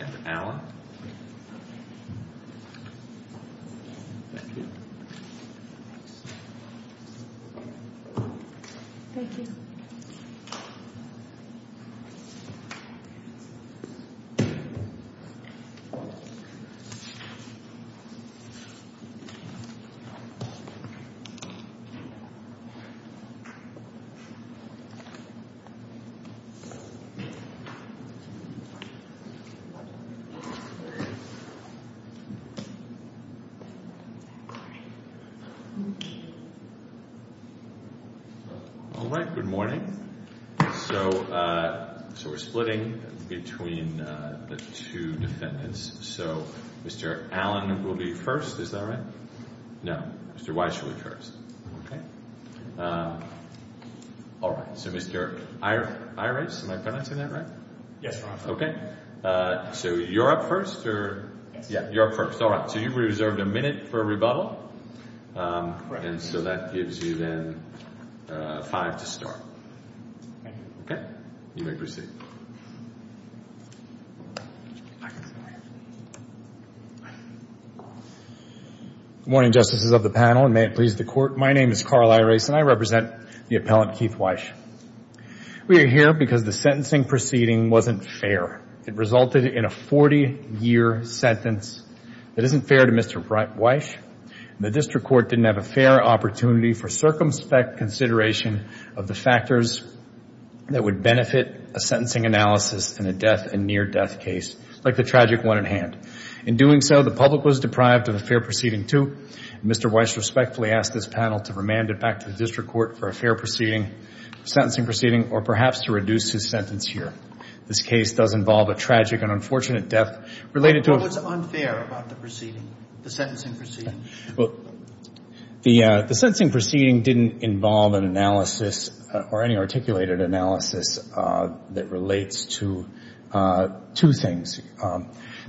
and Allen. All right. Good morning. So we're splitting between the two defendants. So Mr. Allen will be first. Is that right? No. Mr. Wyche will be first. Okay. All right. So Mr. Irace, am I pronouncing that right? Yes, Your Honor. Okay. So you're up first or... Yes. Yeah. You're up first. All right. So you've reserved a minute for rebuttal. Correct. And so that gives you then five to start. Okay. You may proceed. Good morning, Justices of the panel and may it please the Court. My name is Carl Irace and I represent the appellant Keith Wyche. We are here because the sentencing proceeding wasn't fair. It resulted in a 40-year sentence that isn't fair to Mr. Wyche. The district court didn't have a fair opportunity for circumspect consideration of the factors that would benefit a sentencing analysis in a death and near-death case like the tragic one at hand. In doing so, the public was deprived of a fair proceeding too. Mr. Wyche respectfully asked this panel to remand it back to the sentencing proceeding or perhaps to reduce his sentence here. This case does involve a tragic and unfortunate death related to... What was unfair about the proceeding, the sentencing proceeding? Well, the sentencing proceeding didn't involve an analysis or any articulated analysis that relates to two things.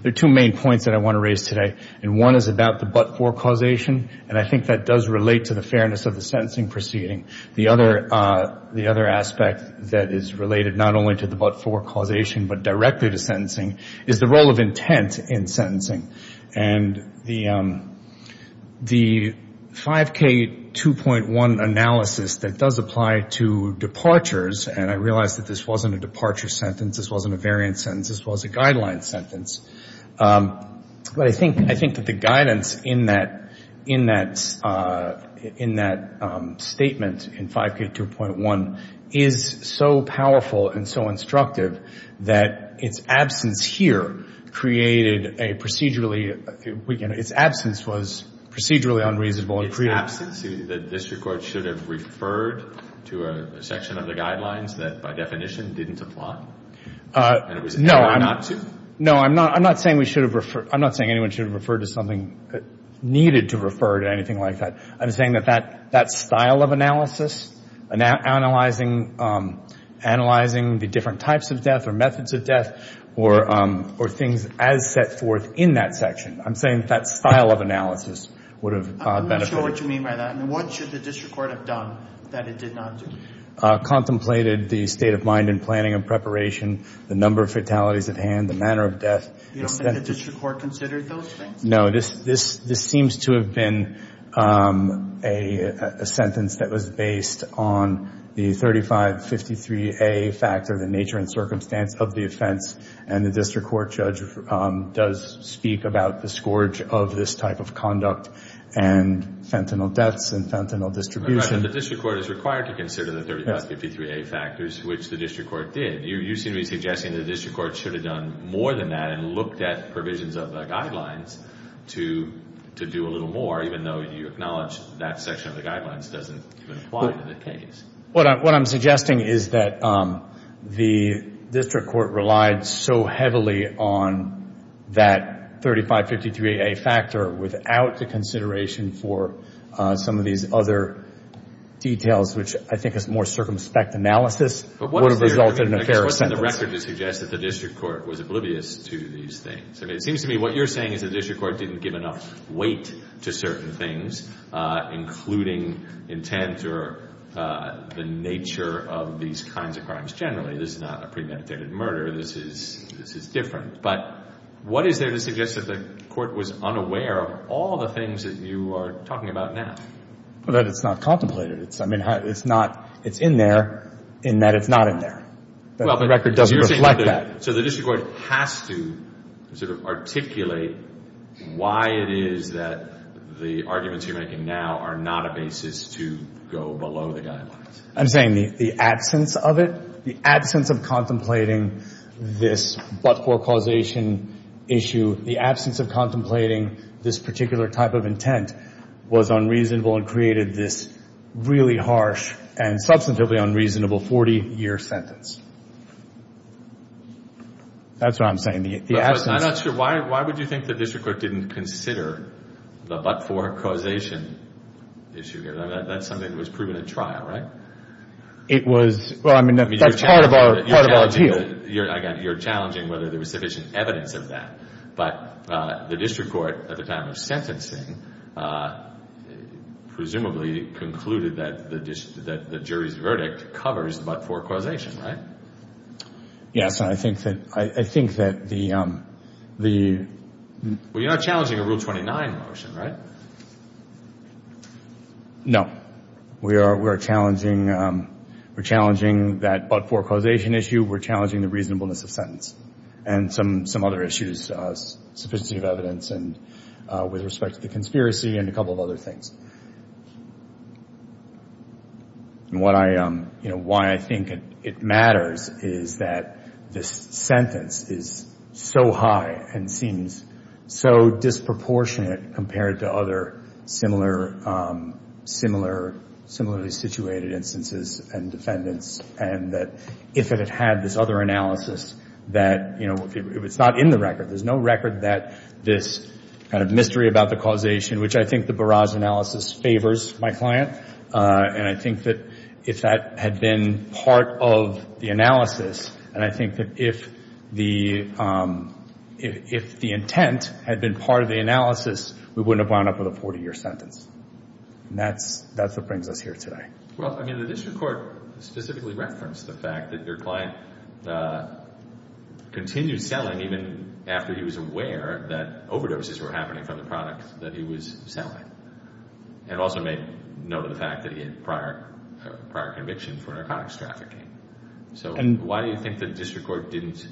There are two main points that I want to raise today and one is about the but-for causation and I think that does relate to the fairness of the case. The other aspect that is related not only to the but-for causation but directly to sentencing is the role of intent in sentencing. And the 5K2.1 analysis that does apply to departures, and I realize that this wasn't a departure sentence, this wasn't a variant sentence, this was a guideline sentence. But I think that the guidance in that statement in 5K2.1 is so powerful and so instructive that its absence here created a procedurally unreasonable... Its absence that the district court should have referred to a section of the guidelines that by definition didn't apply? No, I'm not saying anyone should have referred to something needed to refer to anything like that. I'm saying that that style of analysis analyzing the different types of death or methods of death or things as set forth in that section, I'm saying that style of analysis would have benefited. I'm not sure what you mean by that. What should the district court have done that it did not do? Contemplated the state of mind and planning and preparation, the number of fatalities at hand, the manner of death. You don't think the district court considered those things? No. This seems to have been a sentence that was based on the 3553A factor, the nature and circumstance of the offense, and the district court judge does speak about the scourge of this type of conduct and fentanyl deaths and fentanyl distribution. Right, but the district court is required to consider the 3553A factors, which the district court did. You seem to be suggesting the district court should have done more than that and looked at provisions of the guidelines to do a little more, even though you said that a section of the guidelines doesn't even apply to the case. What I'm suggesting is that the district court relied so heavily on that 3553A factor without the consideration for some of these other details, which I think is more circumspect analysis, would have resulted in a fairer sentence. But what is the record to suggest that the district court was oblivious to these things? It seems to me what you're saying is the district court didn't give enough weight to certain things, including intent or the nature of these kinds of crimes generally. This is not a premeditated murder. This is different. But what is there to suggest that the court was unaware of all the things that you are talking about now? That it's not contemplated. It's in there in that it's not in there. The record doesn't reflect that. So the district court has to articulate why it is that the arguments you're making now are not a basis to go below the guidelines. I'm saying the absence of it, the absence of contemplating this but-for-causation issue, the absence of contemplating this particular type of intent was unreasonable and created this really harsh and substantively unreasonable 40-year sentence. That's what I'm saying. I'm not sure. Why would you think the district court didn't consider the but-for-causation issue? That's something that was proven at trial, right? That's part of our deal. You're challenging whether there was sufficient evidence of that. But the district court at the time of sentencing presumably concluded that the jury's verdict covers the but-for-causation, right? Yes. And I think that the... Well, you're not challenging a Rule 29 motion, right? No. We are challenging that but-for-causation issue. We're challenging the reasonableness of sentence and some of the other things. Why I think it matters is that this sentence is so high and seems so disproportionate compared to other similarly situated instances and defendants, and that if it had had this other analysis, that if it's not in the record, there's no record that this kind of mystery about the causation, which I think the Barrage analysis favors my client, and I think that if that had been part of the analysis, and I think that if the intent had been part of the analysis, we wouldn't have wound up with a 40-year sentence. And that's what brings us here today. Well, I mean, the district court specifically referenced the fact that your client continued selling even after the sentence and even after he was aware that overdoses were happening from the product that he was selling, and also made note of the fact that he had prior conviction for narcotics trafficking. So why do you think the district court didn't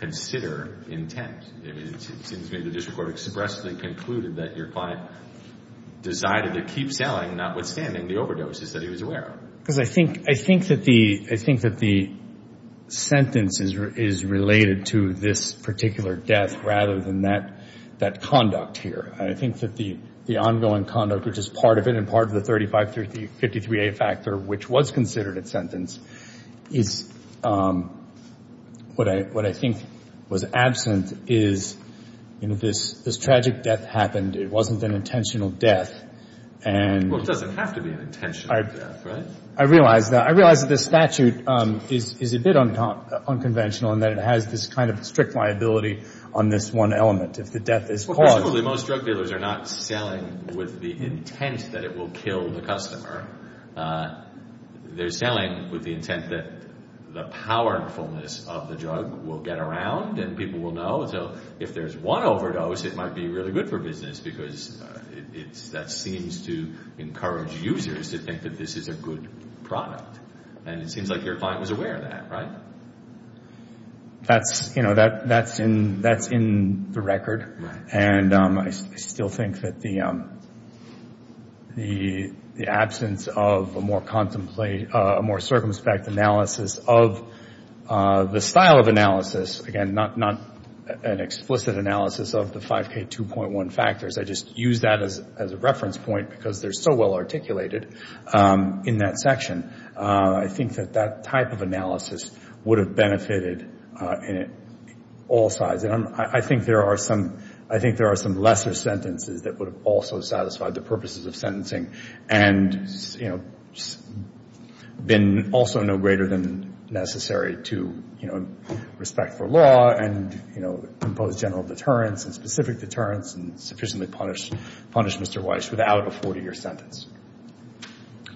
consider intent? I mean, it seems to me the district court expressly concluded that your client decided to keep selling, notwithstanding the overdoses that he was aware of. Because I think that the sentence is related to this particular death rather than that conduct here. I think that the ongoing conduct, which is part of it and part of the 3553A factor, which was considered a sentence, is what I think was absent is this tragic death happened. It wasn't an intentional death. Well, it doesn't have to be an intentional death, right? I realize that. I realize that this statute is a bit unconventional in that it has this kind of strict liability on this one element. Well, presumably most drug dealers are not selling with the intent that it will kill the customer. They're selling with the intent that the powerfulness of the drug will get around and people will know. So if there's one overdose, it might be really good for business, because that seems to encourage users to think that this is a good product. And it seems like your client was aware of that, right? That's in the record. And I still think that the absence of a more circumspect analysis of the style of analysis, again, not an explicit analysis of the 5K2.1 factors. I just use that as a reference point because they're so well articulated in that section. I think that that type of analysis would have benefited all sides. And I think there are some lesser sentences that would have also satisfied the purposes of sentencing and been also no greater than necessary to respect for liability. It would have been fine to have a law and impose general deterrence and specific deterrence and sufficiently punish Mr. Weiss without a 40-year sentence.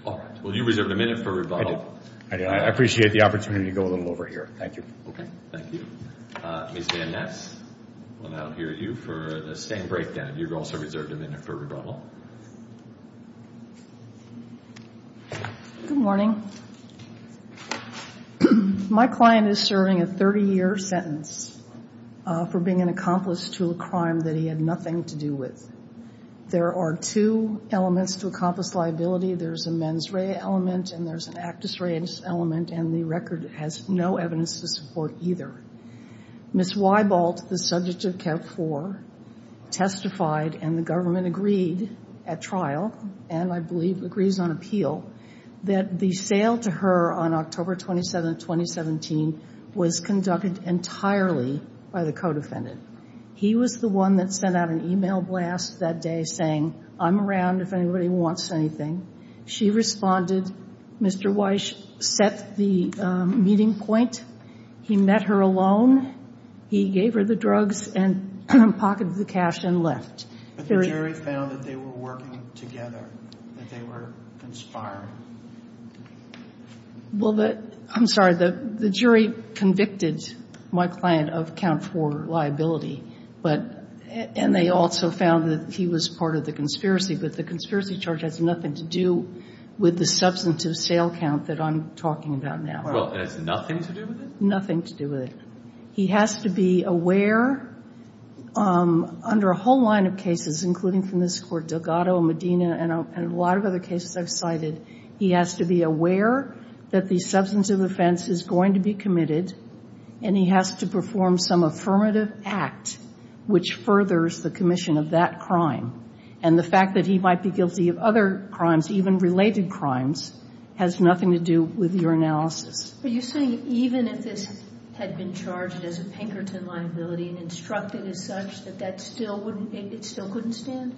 All right. Well, you reserved a minute for rebuttal. I did. I appreciate the opportunity to go a little over here. Thank you. Okay. Thank you. Ms. Van Ness, we'll now hear you for the staying breakdown. You also reserved a minute for rebuttal. Good morning. My client is serving a 30-year sentence for being an accomplice to a crime that he had nothing to do with. There are two elements to accomplice liability. There's a mens rea element and there's an actus rea element, and the record has no evidence to support either. Ms. Weibolt, the subject of Cap 4, testified, and the government agreed at trial, and I believe agrees on appeal, that the sale to her on October 27, 2017, was conducted entirely by the co-defendant. He was the one that sent out an e-mail blast that day saying, I'm around if anybody wants anything. She responded. Mr. Weiss set the meeting point. He met her alone. He gave her the drugs and pocketed the cash and left. But the jury found that they were working together, that they were conspiring. Well, I'm sorry. The jury convicted my client of Count 4 liability, and they also found that he was part of the conspiracy, but the conspiracy charge has nothing to do with the substantive sale count that I'm talking about now. Well, it has nothing to do with it? Nothing to do with it. He has to be aware, under a whole line of cases, including from this Court, Delgado, Medina, and a lot of other cases I've cited, he has to be aware that the substantive offense is going to be committed, and he has to perform some affirmative act which furthers the commission of that crime. And the fact that he might be guilty of other crimes, even related crimes, has nothing to do with your analysis. But you're saying even if this had been charged as a Pinkerton liability and instructed as such, that that still wouldn't, it still couldn't stand?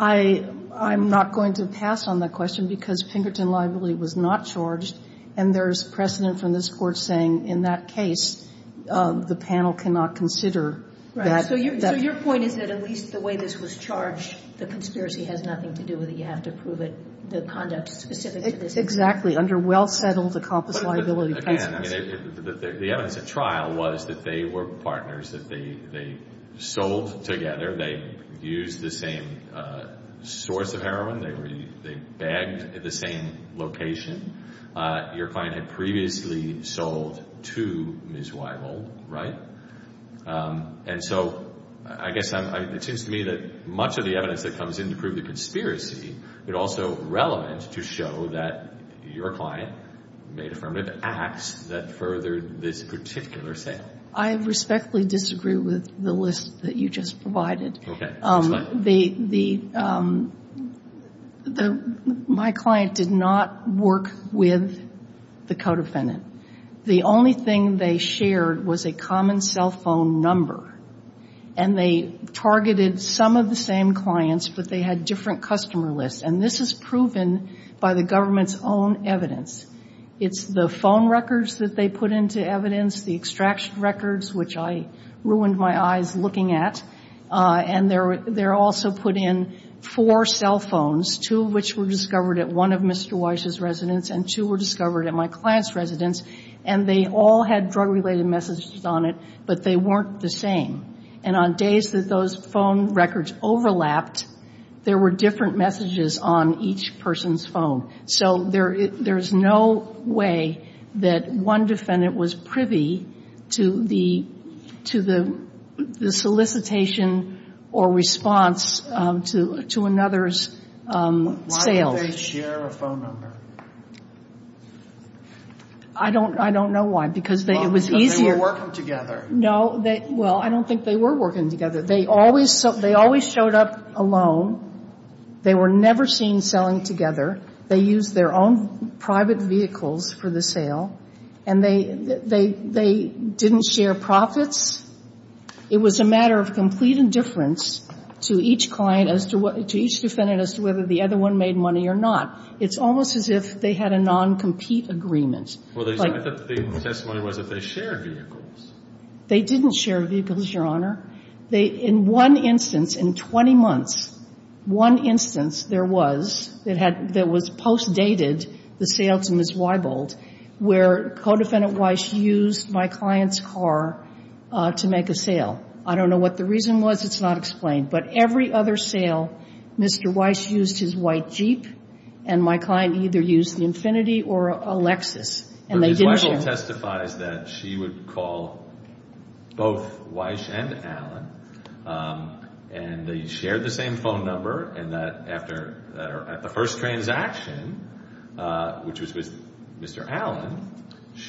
I'm not going to pass on that question because Pinkerton liability was not charged, and there's precedent from this Court saying in that case the panel cannot consider that. Right. So your point is that at least the way this was charged, the conspiracy has nothing to do with it. You have to prove it, the conduct specific to this case. Exactly. Under well-settled, accomplished liability cases. The evidence at trial was that they were partners, that they sold together, they used the same source of heroin, they bagged at the same location. Your client had previously sold to Ms. Weibold, right? And so I guess it seems to me that much of the evidence that comes in to prove the conspiracy, it's also relevant to show that your client made affirmative acts that furthered this particular sale. I respectfully disagree with the list that you just provided. Okay. Explain. My client did not work with the co-defendant. The only thing they shared was a common cell phone number, and they targeted some of the same clients, but they had different customer lists, and this is proven by the government's own evidence. It's the phone records that they put into evidence, the extraction records, which I ruined my eyes looking at, and they also put in four cell phones, two of which were discovered at one of Mr. Weiss's residence and two were discovered at my client's residence, and they all had drug-related messages on it, but they weren't the same. And on days that those phone records overlapped, there were different messages on each person's phone. So there's no way that one defendant was privy to the solicitation or response to another's sales. Why did they share a phone number? I don't know why, because it was easier. They were working together. No. Well, I don't think they were working together. They always showed up alone. They were never seen selling together. They used their own private vehicles for the sale, and they didn't share profits. It was a matter of complete indifference to each client as to what to each defendant as to whether the other one made money or not. It's almost as if they had a non-compete agreement. Well, I thought the testimony was that they shared vehicles. They didn't share vehicles, Your Honor. In one instance, in 20 months, one instance there was that was post-dated, the sale to Ms. Weibold, where Codefendant Weiss used my client's car to make a sale. I don't know what the reason was. It's not explained. But every other sale, Mr. Weiss used his white Jeep, and my client either used the Infiniti or a Lexus, and they didn't share. Ms. Weibold testifies that she would call both Weiss and Allen, and they shared the same phone number. And at the first transaction, which was with Mr. Allen,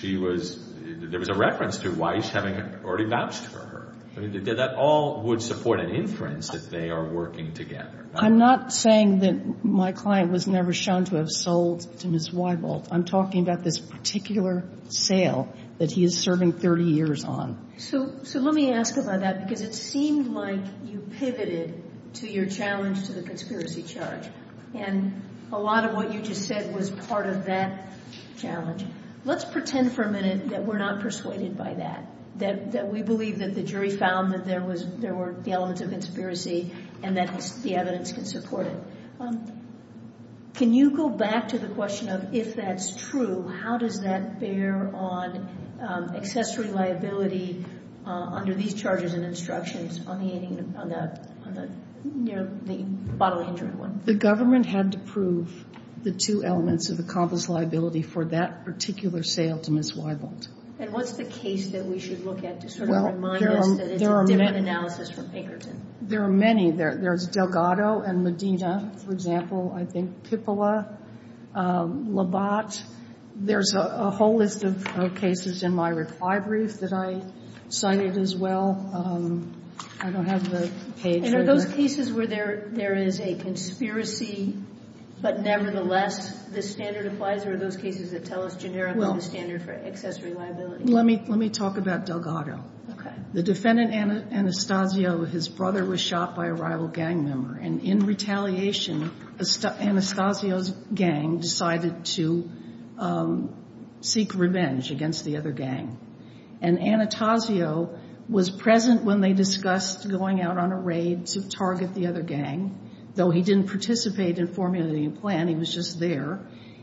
there was a reference to Weiss having already vouched for her. That all would support an inference that they are working together. I'm not saying that my client was never shown to have sold to Ms. Weibold. I'm talking about this particular sale that he is serving 30 years on. So let me ask about that because it seemed like you pivoted to your challenge to the conspiracy charge, and a lot of what you just said was part of that challenge. Let's pretend for a minute that we're not persuaded by that, that we believe that the jury found that there were the elements of conspiracy and that the evidence can support it. Can you go back to the question of if that's true, how does that bear on accessory liability under these charges and instructions on the bottle-injured one? The government had to prove the two elements of the convict's liability for that particular sale to Ms. Weibold. And what's the case that we should look at to sort of remind us that it's a different analysis from Pinkerton? There are many. There's Delgado and Medina, for example. I think Pippola, Labatt. There's a whole list of cases in my reply brief that I cited as well. I don't have the page. And are those cases where there is a conspiracy, but nevertheless this standard applies, or are those cases that tell us generically the standard for accessory liability? Let me talk about Delgado. The defendant, Anastasio, his brother was shot by a rival gang member. And in retaliation, Anastasio's gang decided to seek revenge against the other gang. And Anastasio was present when they discussed going out on a raid to target the other gang, though he didn't participate in formulating a plan. He was just there.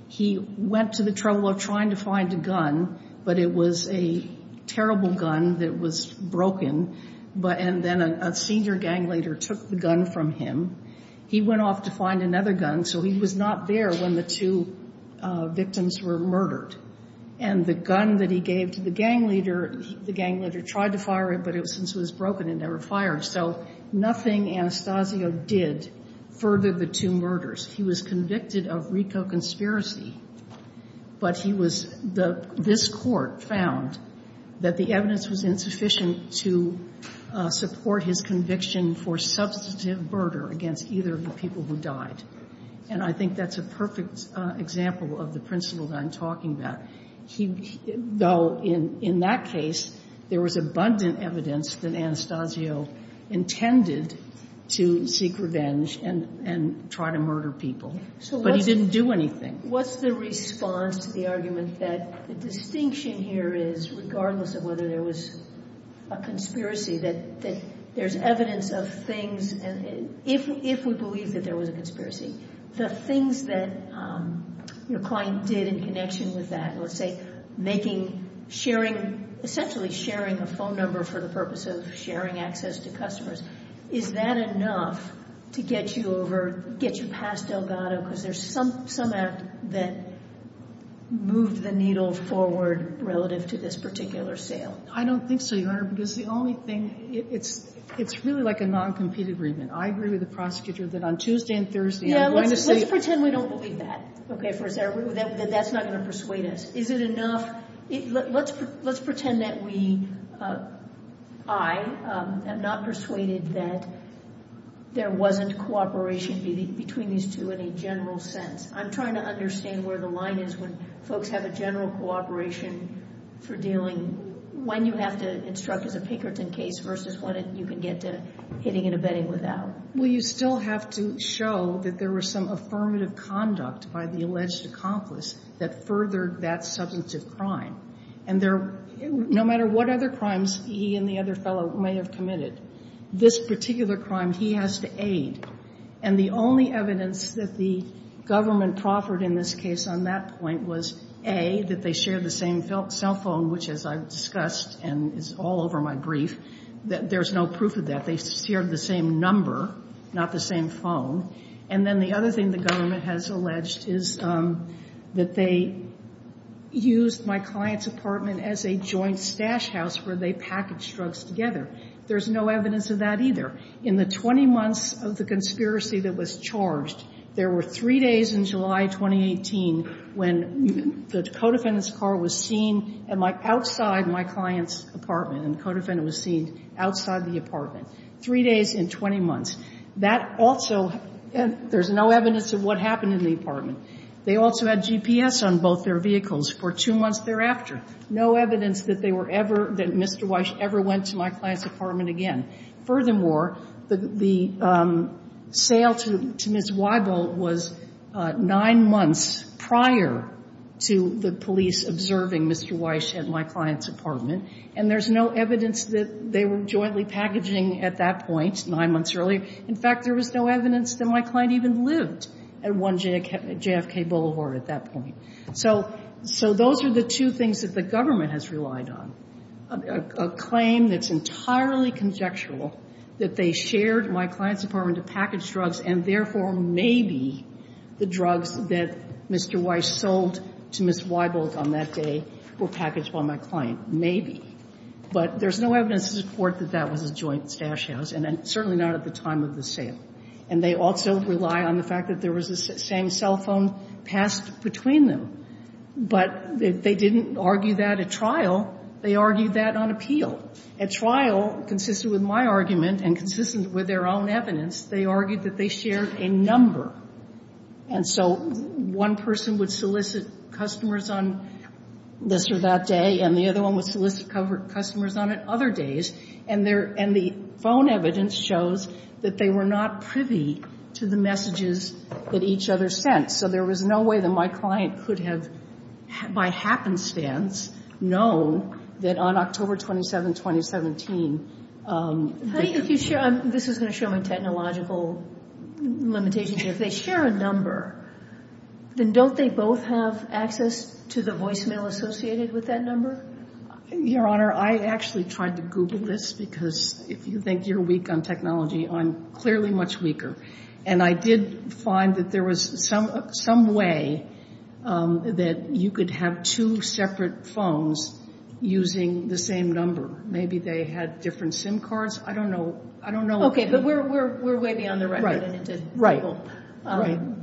He went to the trouble of trying to find a gun, but it was a terrible gun that was broken. And then a senior gang leader took the gun from him. He went off to find another gun, so he was not there when the two victims were murdered. And the gun that he gave to the gang leader, the gang leader tried to fire it, but since it was broken it never fired. So nothing Anastasio did furthered the two murders. He was convicted of RICO conspiracy, but he was the – this court found that the evidence was insufficient to support his conviction for substantive murder against either of the people who died. And I think that's a perfect example of the principle that I'm talking about. Though in that case, there was abundant evidence that Anastasio intended to seek revenge and try to murder people, but he didn't do anything. What's the response to the argument that the distinction here is, regardless of whether there was a conspiracy, that there's evidence of things, if we believe that there was a conspiracy, the things that your client did in connection with that, let's say making, sharing, essentially sharing a phone number for the purpose of sharing access to customers, is that enough to get you over, get you past Delgado? Because there's some act that moved the needle forward relative to this particular sale. I don't think so, Your Honor, because the only thing – it's really like a non-compete agreement. I agree with the prosecutor that on Tuesday and Thursday I'm going to say – Yeah, let's pretend we don't believe that, okay, for a second, that that's not going to persuade us. Is it enough – let's pretend that we – I am not persuaded that there wasn't cooperation between these two in a general sense. I'm trying to understand where the line is when folks have a general cooperation for dealing – when you have to instruct as a Pinkerton case versus when you can get to hitting and abetting without. Well, you still have to show that there was some affirmative conduct by the alleged accomplice that furthered that substantive crime. And there – no matter what other crimes he and the other fellow may have committed, this particular crime he has to aid. And the only evidence that the government proffered in this case on that point was, A, that they shared the same cell phone, which, as I've discussed and is all over my brief, there's no proof of that. They shared the same number, not the same phone. And then the other thing the government has alleged is that they used my client's apartment as a joint stash house where they packaged drugs together. There's no evidence of that either. In the 20 months of the conspiracy that was charged, there were three days in July 2018 when the co-defendant's car was seen outside my client's apartment. And the co-defendant was seen outside the apartment. Three days in 20 months. That also – there's no evidence of what happened in the apartment. They also had GPS on both their vehicles for two months thereafter. No evidence that they were ever – that Mr. Weiss ever went to my client's apartment again. Furthermore, the sale to Ms. Weibel was nine months prior to the police observing Mr. Weiss at my client's apartment. And there's no evidence that they were jointly packaging at that point, nine months earlier. In fact, there was no evidence that my client even lived at JFK Boulevard at that point. So those are the two things that the government has relied on. A claim that's entirely conjectural, that they shared my client's apartment to package drugs, and therefore maybe the drugs that Mr. Weiss sold to Ms. Weibel on that day were packaged by my client. Maybe. But there's no evidence to support that that was a joint stash house, and certainly not at the time of the sale. And they also rely on the fact that there was the same cell phone passed between them. But they didn't argue that at trial. They argued that on appeal. At trial, consistent with my argument and consistent with their own evidence, they argued that they shared a number. And so one person would solicit customers on this or that day, and the other one would solicit customers on other days. And the phone evidence shows that they were not privy to the messages that each other sent. So there was no way that my client could have, by happenstance, known that on October 27, 2017. This is going to show my technological limitations. If they share a number, then don't they both have access to the voicemail associated with that number? Your Honor, I actually tried to Google this, because if you think you're weak on technology, I'm clearly much weaker. And I did find that there was some way that you could have two separate phones using the same number. Maybe they had different SIM cards. I don't know. I don't know. Okay, but we're way beyond the record. Right.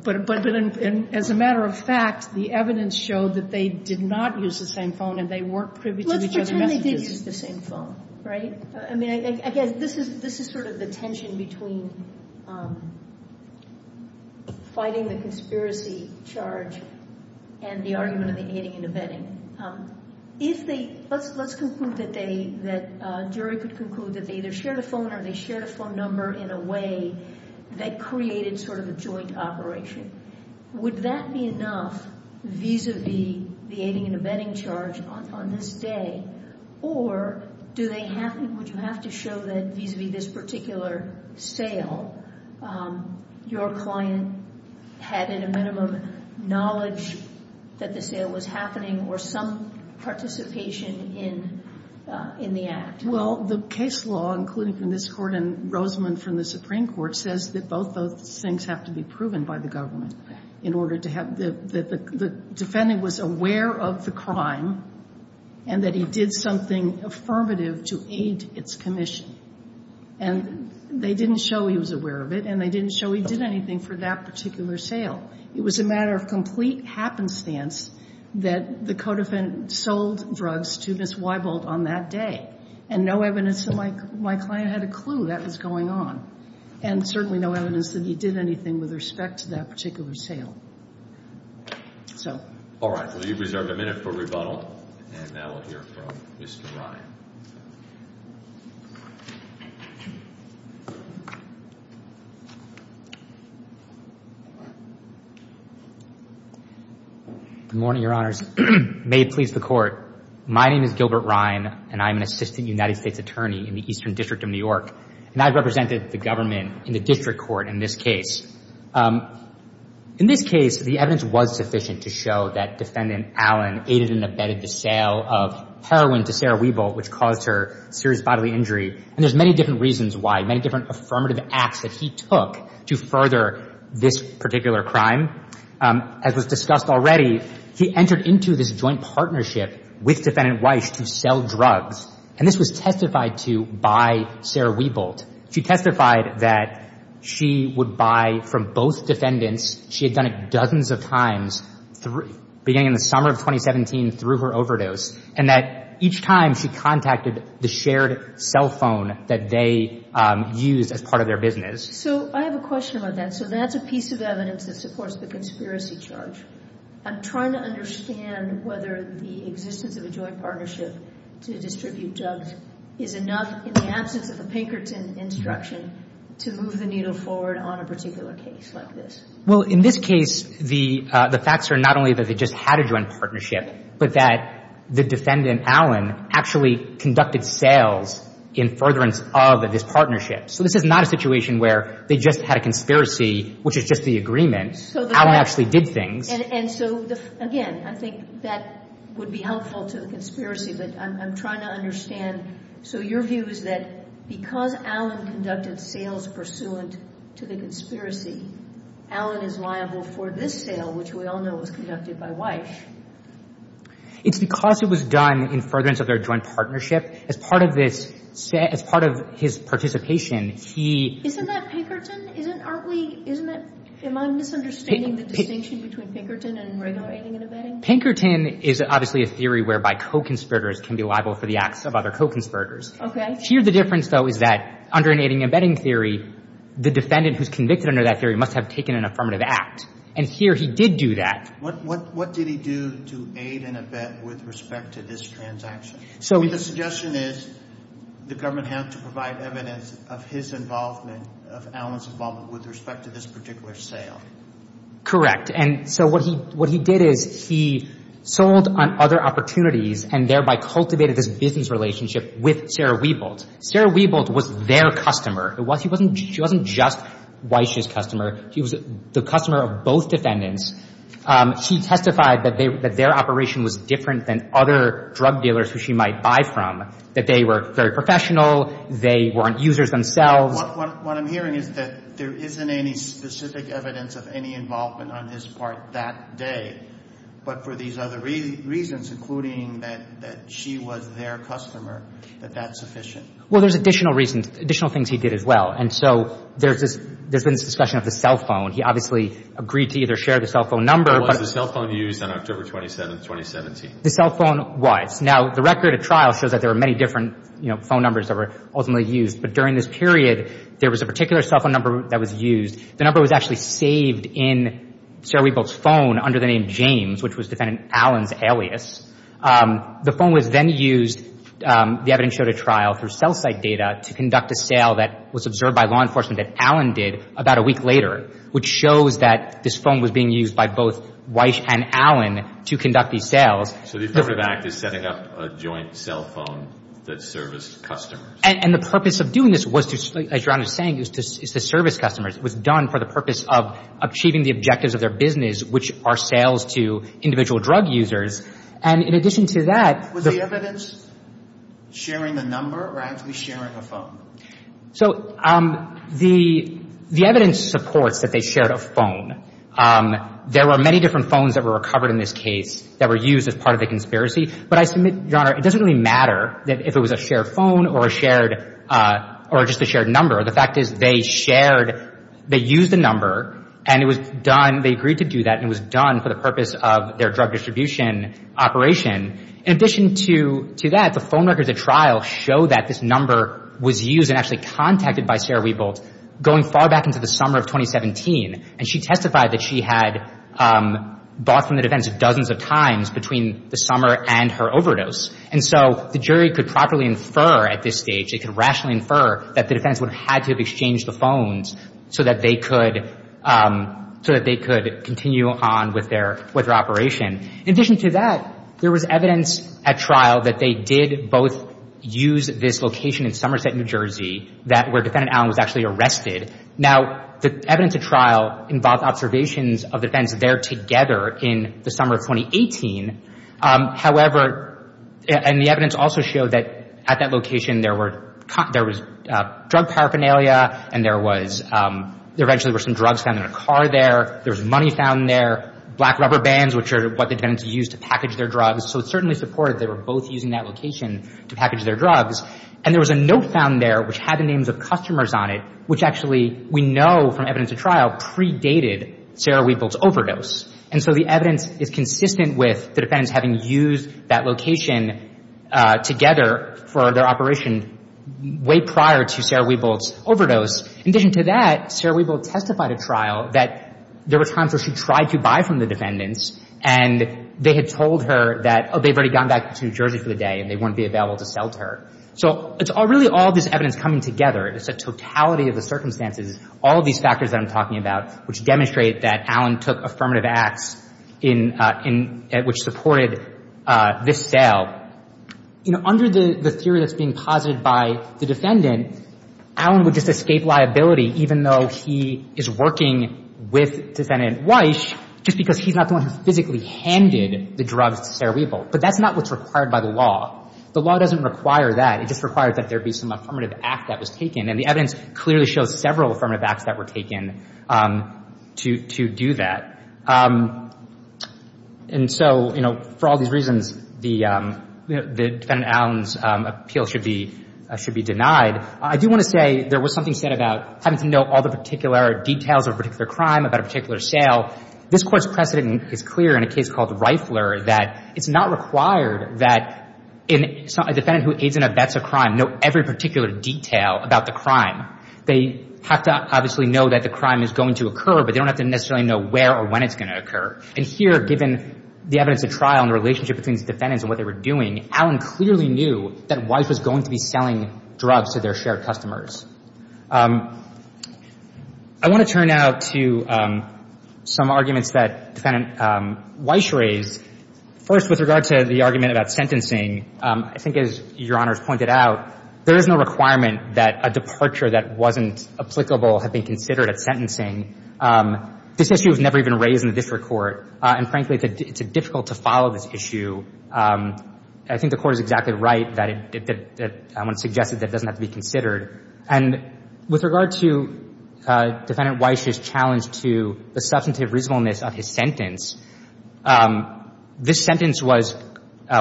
But as a matter of fact, the evidence showed that they did not use the same phone, and they weren't privy to each other's messages. Let's pretend they did use the same phone, right? I mean, again, this is sort of the tension between fighting the conspiracy charge and the argument of the aiding and abetting. Let's conclude that the jury could conclude that they either shared a phone or they shared a phone number in a way that created sort of a joint operation. Would that be enough vis-a-vis the aiding and abetting charge on this day, or would you have to show that vis-a-vis this particular sale, your client had in a minimum knowledge that the sale was happening or some participation in the act? Well, the case law, including from this Court and Rosamond from the Supreme Court, says that both those things have to be proven by the government in order to have the defendant was aware of the crime and that he did something affirmative to aid its commission. And they didn't show he was aware of it, and they didn't show he did anything for that particular sale. It was a matter of complete happenstance that the codefendant sold drugs to Ms. Weibold on that day, and no evidence that my client had a clue that was going on, and certainly no evidence that he did anything with respect to that particular sale. All right. Well, you've reserved a minute for rebuttal, and now we'll hear from Mr. Ryan. Good morning, Your Honors. May it please the Court, my name is Gilbert Ryan, and I'm an Assistant United States Attorney in the Eastern District of New York, and I represented the government in the District Court in this case. In this case, the evidence was sufficient to show that Defendant Allen aided and abetted the sale of heroin to Sarah Weibold, which caused her serious bodily injury, and there's many different reasons why, many different affirmative acts that he took to further this particular crime. As was discussed already, he entered into this joint partnership with Defendant Weisch to sell drugs, and this was testified to by Sarah Weibold. She testified that she would buy from both defendants, she had done it dozens of times beginning in the summer of 2017 through her overdose, and that each time she contacted the shared cell phone that they used as part of their business. So I have a question about that. So that's a piece of evidence that supports the conspiracy charge. I'm trying to understand whether the existence of a joint partnership to distribute drugs is enough in the absence of a Pinkerton instruction to move the needle forward on a particular case like this. Well, in this case, the facts are not only that they just had a joint partnership, but that the Defendant Allen actually conducted sales in furtherance of this partnership. So this is not a situation where they just had a conspiracy, which is just the agreement. Allen actually did things. And so, again, I think that would be helpful to the conspiracy, but I'm trying to understand. So your view is that because Allen conducted sales pursuant to the conspiracy, Allen is liable for this sale, which we all know was conducted by Weich? It's because it was done in furtherance of their joint partnership. As part of this – as part of his participation, he – Isn't that Pinkerton? Isn't – aren't we – isn't that – am I misunderstanding the distinction between Pinkerton and regular aiding and abetting? Pinkerton is obviously a theory whereby co-conspirators can be liable for the acts of other co-conspirators. Okay. Here the difference, though, is that under an aiding and abetting theory, the Defendant who's convicted under that theory must have taken an affirmative act. And here he did do that. What did he do to aid and abet with respect to this transaction? I mean, the suggestion is the Government has to provide evidence of his involvement, of Allen's involvement with respect to this particular sale. Correct. And so what he – what he did is he sold on other opportunities and thereby cultivated this business relationship with Sarah Wiebold. Sarah Wiebold was their customer. It wasn't – she wasn't just Weich's customer. She was the customer of both Defendants. She testified that they – that their operation was different than other drug dealers who she might buy from, that they were very professional. They weren't users themselves. So what I'm hearing is that there isn't any specific evidence of any involvement on his part that day, but for these other reasons, including that she was their customer, that that's sufficient. Well, there's additional reasons – additional things he did as well. And so there's this – there's been this discussion of the cell phone. He obviously agreed to either share the cell phone number. Was the cell phone used on October 27, 2017? The cell phone was. Now, the record of trial shows that there were many different, you know, phone numbers that were ultimately used. But during this period, there was a particular cell phone number that was used. The number was actually saved in Sarah Wiebold's phone under the name James, which was Defendant Allen's alias. The phone was then used – the evidence showed a trial through cell site data to conduct a sale that was observed by law enforcement that Allen did about a week later, which shows that this phone was being used by both Weich and Allen to conduct these sales. So the affirmative act is setting up a joint cell phone that serviced customers. And the purpose of doing this was to, as Your Honor is saying, is to service customers. It was done for the purpose of achieving the objectives of their business, which are sales to individual drug users. And in addition to that – Was the evidence sharing the number or actually sharing a phone? So the evidence supports that they shared a phone. There were many different phones that were recovered in this case that were used as part of the conspiracy. But I submit, Your Honor, it doesn't really matter if it was a shared phone or a shared – or just a shared number. The fact is they shared – they used the number, and it was done – they agreed to do that, and it was done for the purpose of their drug distribution operation. In addition to that, the phone records at trial show that this number was used and actually contacted by Sarah Wiebold going far back into the summer of 2017. And she testified that she had bought from the defense dozens of times between the summer and her overdose. And so the jury could properly infer at this stage, they could rationally infer that the defense would have had to have exchanged the phones so that they could continue on with their operation. In addition to that, there was evidence at trial that they did both use this location in Somerset, New Jersey, where Defendant Allen was actually arrested. Now, the evidence at trial involved observations of the defense there together in the summer of 2018. However – and the evidence also showed that at that location there were – there was drug paraphernalia, and there was – there eventually were some drugs found in a car there. There was money found there, black rubber bands, which are what the defendants used to package their drugs. So it certainly supported they were both using that location to package their drugs. And there was a note found there which had the names of customers on it, which actually we know from evidence at trial predated Sarah Wiebold's overdose. And so the evidence is consistent with the defendants having used that location together for their operation way prior to Sarah Wiebold's overdose. In addition to that, Sarah Wiebold testified at trial that there were times where she tried to buy from the defendants, and they had told her that, oh, they've already gone back to New Jersey for the day, and they wouldn't be available to sell to her. So it's really all this evidence coming together. It's a totality of the circumstances, all of these factors that I'm talking about, which demonstrate that Allen took affirmative acts in – which supported this sale. You know, under the theory that's being posited by the defendant, Allen would just escape liability, even though he is working with Defendant Weiss, just because he's not the one who physically handed the drugs to Sarah Wiebold. But that's not what's required by the law. The law doesn't require that. It just requires that there be some affirmative act that was taken. And the evidence clearly shows several affirmative acts that were taken to do that. And so, you know, for all these reasons, the defendant Allen's appeal should be denied. I do want to say there was something said about having to know all the particular details of a particular crime, about a particular sale. This Court's precedent is clear in a case called Reifler, that it's not required that a defendant who aids in a vets a crime know every particular detail about the crime. They have to obviously know that the crime is going to occur, but they don't have to necessarily know where or when it's going to occur. And here, given the evidence at trial and the relationship between these defendants and what they were doing, Allen clearly knew that Weiss was going to be selling drugs to their shared customers. I want to turn now to some arguments that Defendant Weiss raised. First, with regard to the argument about sentencing, I think as Your Honors pointed out, there is no requirement that a departure that wasn't applicable had been considered at sentencing. This issue was never even raised in the district court. And frankly, it's difficult to follow this issue. I think the Court is exactly right that I want to suggest that it doesn't have to be considered. And with regard to Defendant Weiss's challenge to the substantive reasonableness of his sentence, this sentence was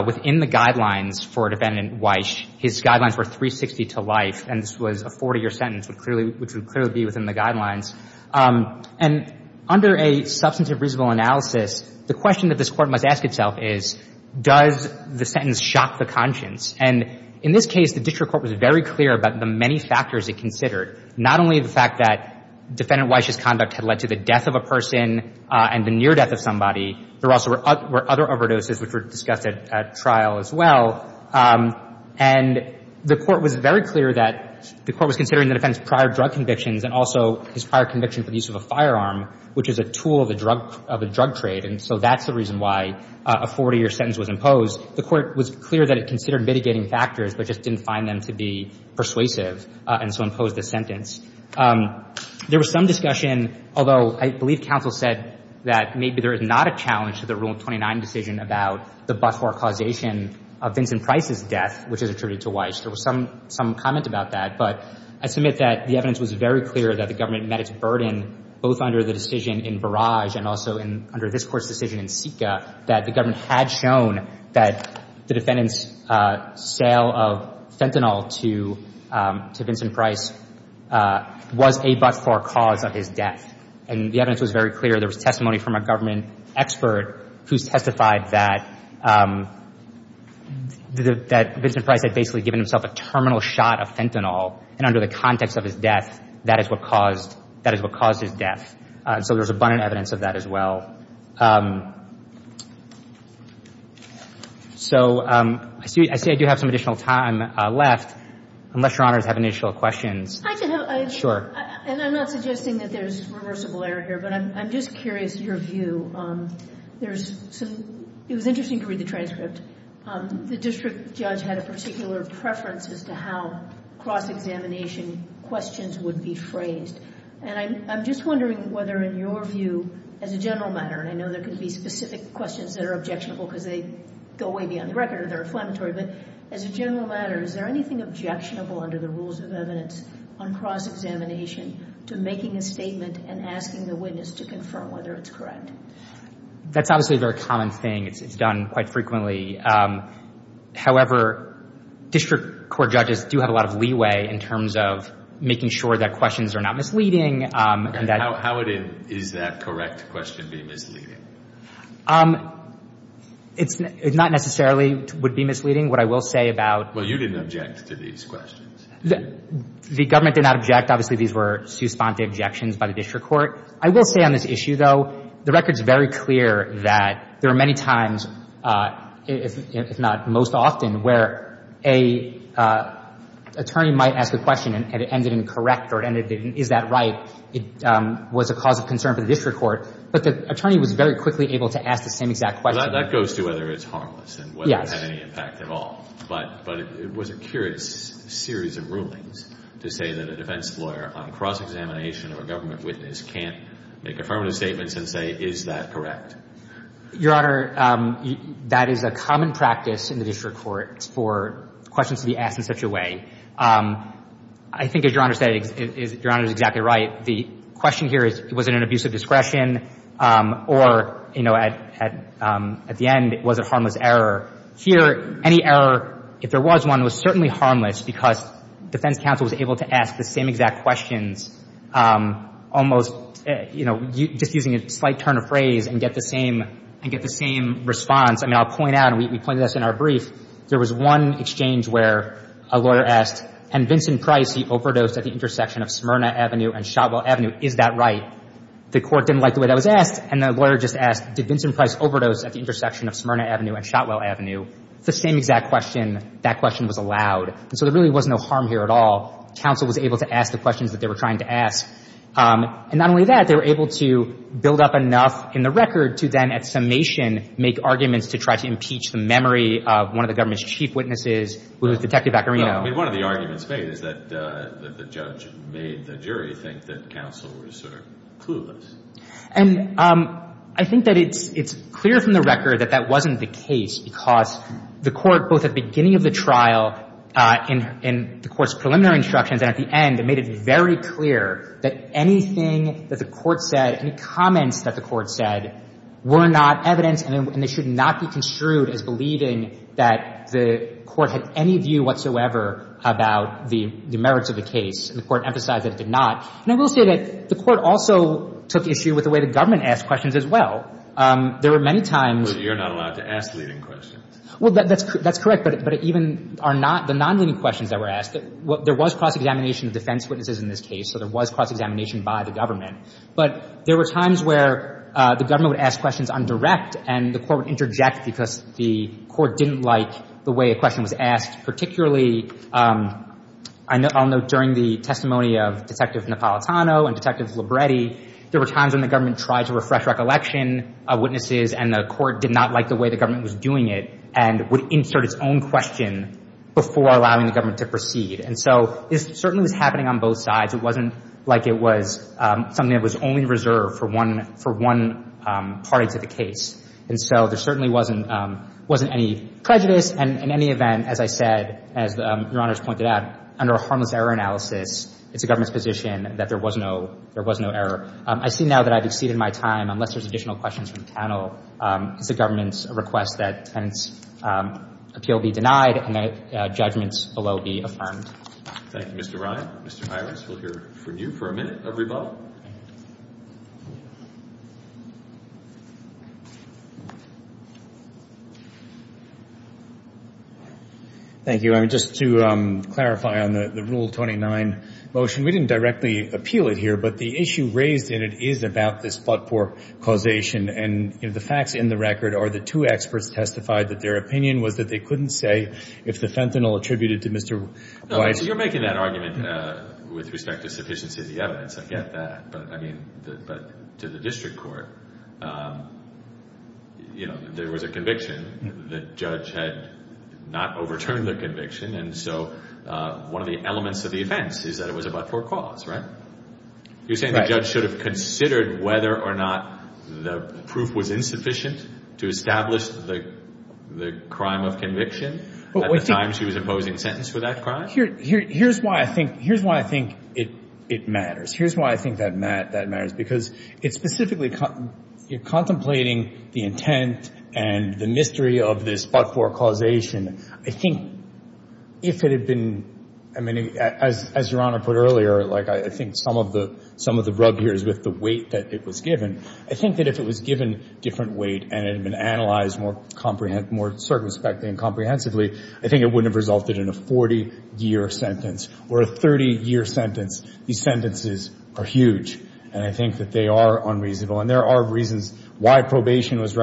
within the guidelines for Defendant Weiss. His guidelines were 360 to life, and this was a 40-year sentence, which would clearly be within the guidelines. And under a substantive reasonable analysis, the question that this Court must ask itself is, does the sentence shock the conscience? And in this case, the district court was very clear about the many factors it considered, not only the fact that Defendant Weiss's conduct had led to the death of a person and the near death of somebody. There also were other overdoses which were discussed at trial as well. And the Court was very clear that the Court was considering the defendant's prior drug convictions and also his prior conviction for the use of a firearm, which is a tool of a drug trade. And so that's the reason why a 40-year sentence was imposed. The Court was clear that it considered mitigating factors but just didn't find them to be persuasive and so imposed the sentence. There was some discussion, although I believe counsel said that maybe there is not a challenge to the Rule 29 decision about the but-for causation of Vincent Price's death, which is attributed to Weiss. There was some comment about that. But I submit that the evidence was very clear that the government met its burden, both under the decision in Barrage and also under this Court's decision in Seca, that the government had shown that the defendant's sale of fentanyl to Vincent Price was a but-for cause of his death. And the evidence was very clear. There was testimony from a government expert who testified that Vincent Price had basically given himself a terminal shot of fentanyl, and under the context of his death, that is what caused his death. So there's abundant evidence of that as well. So I see I do have some additional time left, unless Your Honors have initial questions. I can help. Sure. And I'm not suggesting that there's reversible error here, but I'm just curious your view. There's some – it was interesting to read the transcript. The district judge had a particular preference as to how cross-examination questions would be phrased. And I'm just wondering whether, in your view, as a general matter, and I know there can be specific questions that are objectionable because they go way beyond the record or they're inflammatory, but as a general matter, is there anything objectionable under the rules of evidence on cross-examination to making a statement and asking the witness to confirm whether it's correct? That's obviously a very common thing. It's done quite frequently. However, district court judges do have a lot of leeway in terms of making sure that questions are not misleading. And how would an is-that-correct question be misleading? It's not necessarily would be misleading. What I will say about – Well, you didn't object to these questions. The government did not object. Obviously, these were sous-spente objections by the district court. I will say on this issue, though, the record's very clear that there are many times, if not most often, where an attorney might ask a question and it ended in correct or it ended in is-that-right. It was a cause of concern for the district court. But the attorney was very quickly able to ask the same exact question. Well, that goes to whether it's harmless and whether it had any impact at all. Yes. But it was a curious series of rulings to say that a defense lawyer on cross-examination of a government witness can't make affirmative statements and say is-that-correct. Your Honor, that is a common practice in the district court for questions to be asked in such a way. I think, as Your Honor said, Your Honor is exactly right. The question here is was it an abuse of discretion or, you know, at the end, was it harmless error. Here, any error, if there was one, was certainly harmless because defense counsel was able to ask the same exact questions almost, you know, just using a slight turn of phrase and get the same response. I mean, I'll point out and we pointed this in our brief. There was one exchange where a lawyer asked, and Vincent Price, he overdosed at the intersection of Smyrna Avenue and Shotwell Avenue. Is that right? The court didn't like the way that was asked and the lawyer just asked, did Vincent Price overdose at the intersection of Smyrna Avenue and Shotwell Avenue? It's the same exact question. That question was allowed. And so there really was no harm here at all. Counsel was able to ask the questions that they were trying to ask. And not only that, they were able to build up enough in the record to then, at summation, make arguments to try to impeach the memory of one of the government's chief witnesses, who was Detective Vaccarino. I mean, one of the arguments made is that the judge made the jury think that counsel was sort of clueless. And I think that it's clear from the record that that wasn't the case because the court, both at the beginning of the trial and the court's preliminary instructions and at the end, made it very clear that anything that the court said, any comments that the court said were not evidence and they should not be construed as believing that the court had any view whatsoever about the merits of the case. And the court emphasized that it did not. And I will say that the court also took issue with the way the government asked questions as well. There were many times. But you're not allowed to ask leading questions. Well, that's correct. But even the non-leading questions that were asked, there was cross-examination of defense witnesses in this case, so there was cross-examination by the government. But there were times where the government would ask questions on direct and the court would interject because the court didn't like the way a question was asked. Particularly, I'll note during the testimony of Detective Napolitano and Detective Libretti, there were times when the government tried to refresh recollection of witnesses and the court did not like the way the government was doing it and would insert its own question before allowing the government to proceed. And so this certainly was happening on both sides. It wasn't like it was something that was only reserved for one party to the case. And so there certainly wasn't any prejudice. And in any event, as I said, as Your Honors pointed out, under a harmless error analysis, it's the government's position that there was no error. I see now that I've exceeded my time. Unless there's additional questions from the panel, it's the government's request that the appeal be denied and that judgments below be affirmed. Thank you, Mr. Ryan. Mr. Hirons, we'll hear from you for a minute, everybody. Thank you. Just to clarify on the Rule 29 motion, we didn't directly appeal it here, but the issue raised in it is about this flood port causation and the facts in the record are the two experts testified that their opinion was that they couldn't say if the fentanyl attributed to Mr. White. You're making that argument with respect to sufficiency of the evidence. I get that. But to the district court, there was a conviction. The judge had not overturned the conviction. And so one of the elements of the offense is that it was a flood port cause, right? You're saying the judge should have considered whether or not the proof was insufficient to establish the crime of conviction at the time she was imposing sentence for that crime? Here's why I think it matters. Here's why I think that matters, because it's specifically contemplating the intent and the mystery of this flood port causation. I think if it had been, I mean, as Your Honor put earlier, like I think some of the rub here is with the weight that it was given. I think that if it was given different weight and it had been analyzed more circumspectly and comprehensively, I think it wouldn't have resulted in a 40-year sentence or a 30-year sentence. These sentences are huge, and I think that they are unreasonable. And there are reasons why probation was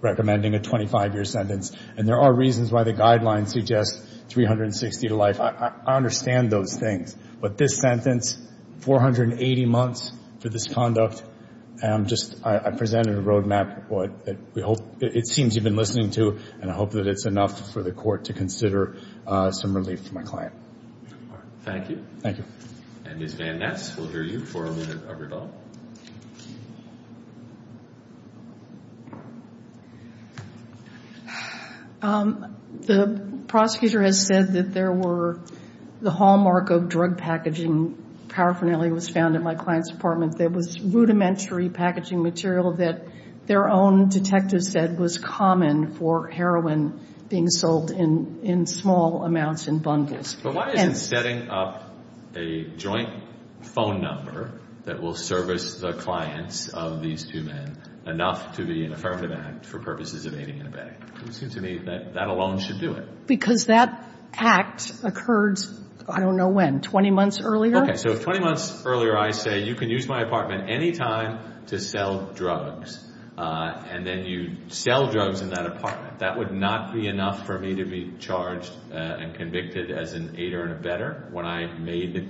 recommending a 25-year sentence, and there are reasons why the guidelines suggest 360 to life. I understand those things, but this sentence, 480 months for this conduct, I presented a roadmap that it seems you've been listening to, and I hope that it's enough for the court to consider some relief for my client. Thank you. Thank you. Ms. Van Ness, we'll hear you for a minute of rebuttal. The prosecutor has said that there were the hallmark of drug packaging, paraphernalia was found in my client's apartment, that was rudimentary packaging material that their own detective said was common for heroin being sold in small amounts in bundles. But why isn't setting up a joint phone number that will service the clients of these two men enough to be an affirmative act for purposes of aiding and abetting? It seems to me that that alone should do it. Because that act occurred, I don't know when, 20 months earlier? Okay. So if 20 months earlier I say you can use my apartment anytime to sell drugs and then you sell drugs in that apartment, that would not be enough for me to be charged and convicted as an aider and abetter when I made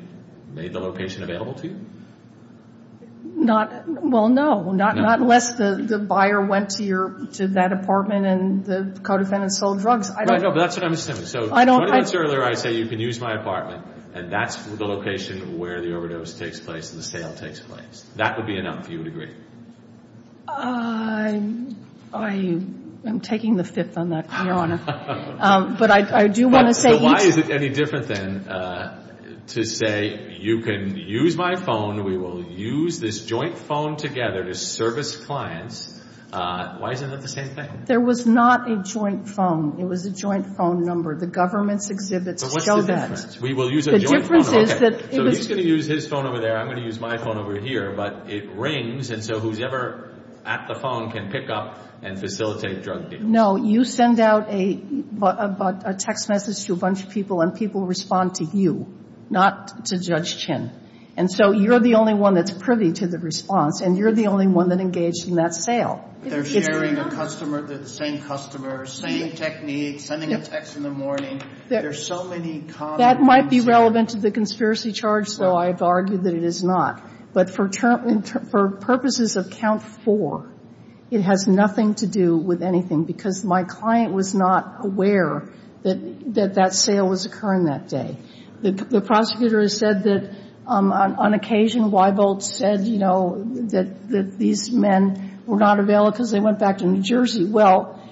the location available to you? Well, no. Not unless the buyer went to that apartment and the co-defendant sold drugs. Right. That's what I'm assuming. So 20 months earlier I say you can use my apartment, and that's the location where the overdose takes place and the sale takes place. That would be enough, you would agree? I'm taking the fifth on that, Your Honor. But I do want to say each. So why is it any different then to say you can use my phone, we will use this joint phone together to service clients? Why isn't that the same thing? There was not a joint phone. It was a joint phone number. The government's exhibits show that. So what's the difference? We will use a joint phone. The difference is that it was. So he's going to use his phone over there, I'm going to use my phone over here, but it rings, and so who's ever at the phone can pick up and facilitate drug deals. No, you send out a text message to a bunch of people, and people respond to you, not to Judge Chin. And so you're the only one that's privy to the response, and you're the only one that engaged in that sale. They're sharing a customer, the same customer, same technique, sending a text in the morning. There's so many common things. That might be relevant to the conspiracy charge, though I've argued that it is not. But for purposes of count four, it has nothing to do with anything, because my client was not aware that that sale was occurring that day. The prosecutor has said that on occasion, Weibold said, you know, that these men were not available because they went back to New Jersey. Well,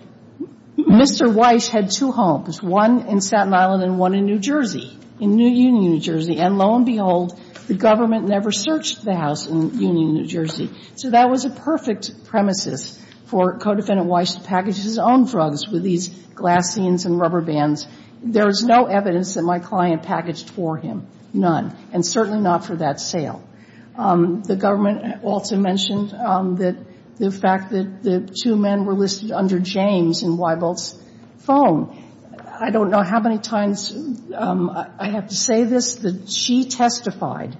Mr. Weiss had two homes, one in Staten Island and one in New Jersey, in New Union, New Jersey. And lo and behold, the government never searched the house in Union, New Jersey. So that was a perfect premises for Codefendant Weiss to package his own drugs with these glassine and rubber bands. There is no evidence that my client packaged for him, none, and certainly not for that sale. The government also mentioned the fact that the two men were listed under James in Weibold's phone. I don't know how many times I have to say this, that she testified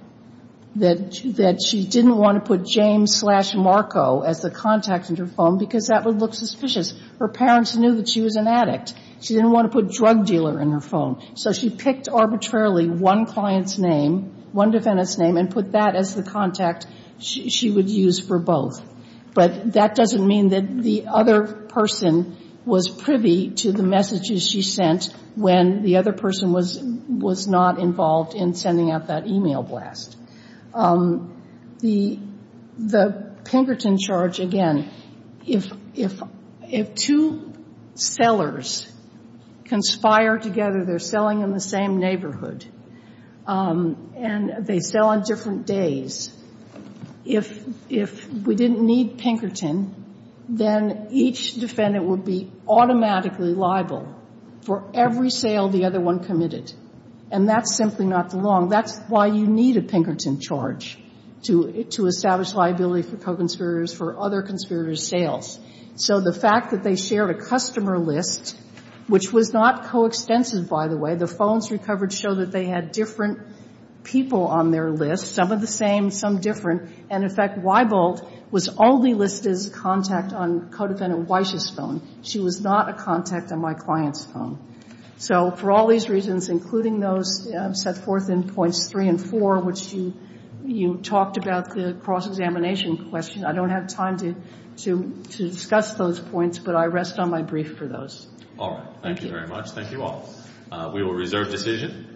that she didn't want to put James slash Marco as the contact in her phone, because that would look suspicious. Her parents knew that she was an addict. She didn't want to put drug dealer in her phone. So she picked arbitrarily one client's name, one defendant's name, and put that as the contact she would use for both. But that doesn't mean that the other person was privy to the messages she sent when the other person was not involved in sending out that e-mail blast. The Pinkerton charge, again, if two sellers conspire together, they're selling in the same neighborhood, and they sell on different days. If we didn't need Pinkerton, then each defendant would be automatically liable for every sale the other one committed. And that's simply not wrong. That's why you need a Pinkerton charge, to establish liability for co-conspirators for other conspirators' sales. So the fact that they shared a customer list, which was not coextensive, by the way. The phones recovered show that they had different people on their list, some of the same, some different. And, in fact, Weibold was only listed as contact on co-defendant Weiss' phone. She was not a contact on my client's phone. So for all these reasons, including those set forth in points three and four, which you talked about the cross-examination question, I don't have time to discuss those points, but I rest on my brief for those. All right. Thank you very much. Thank you all. We will reserve decision.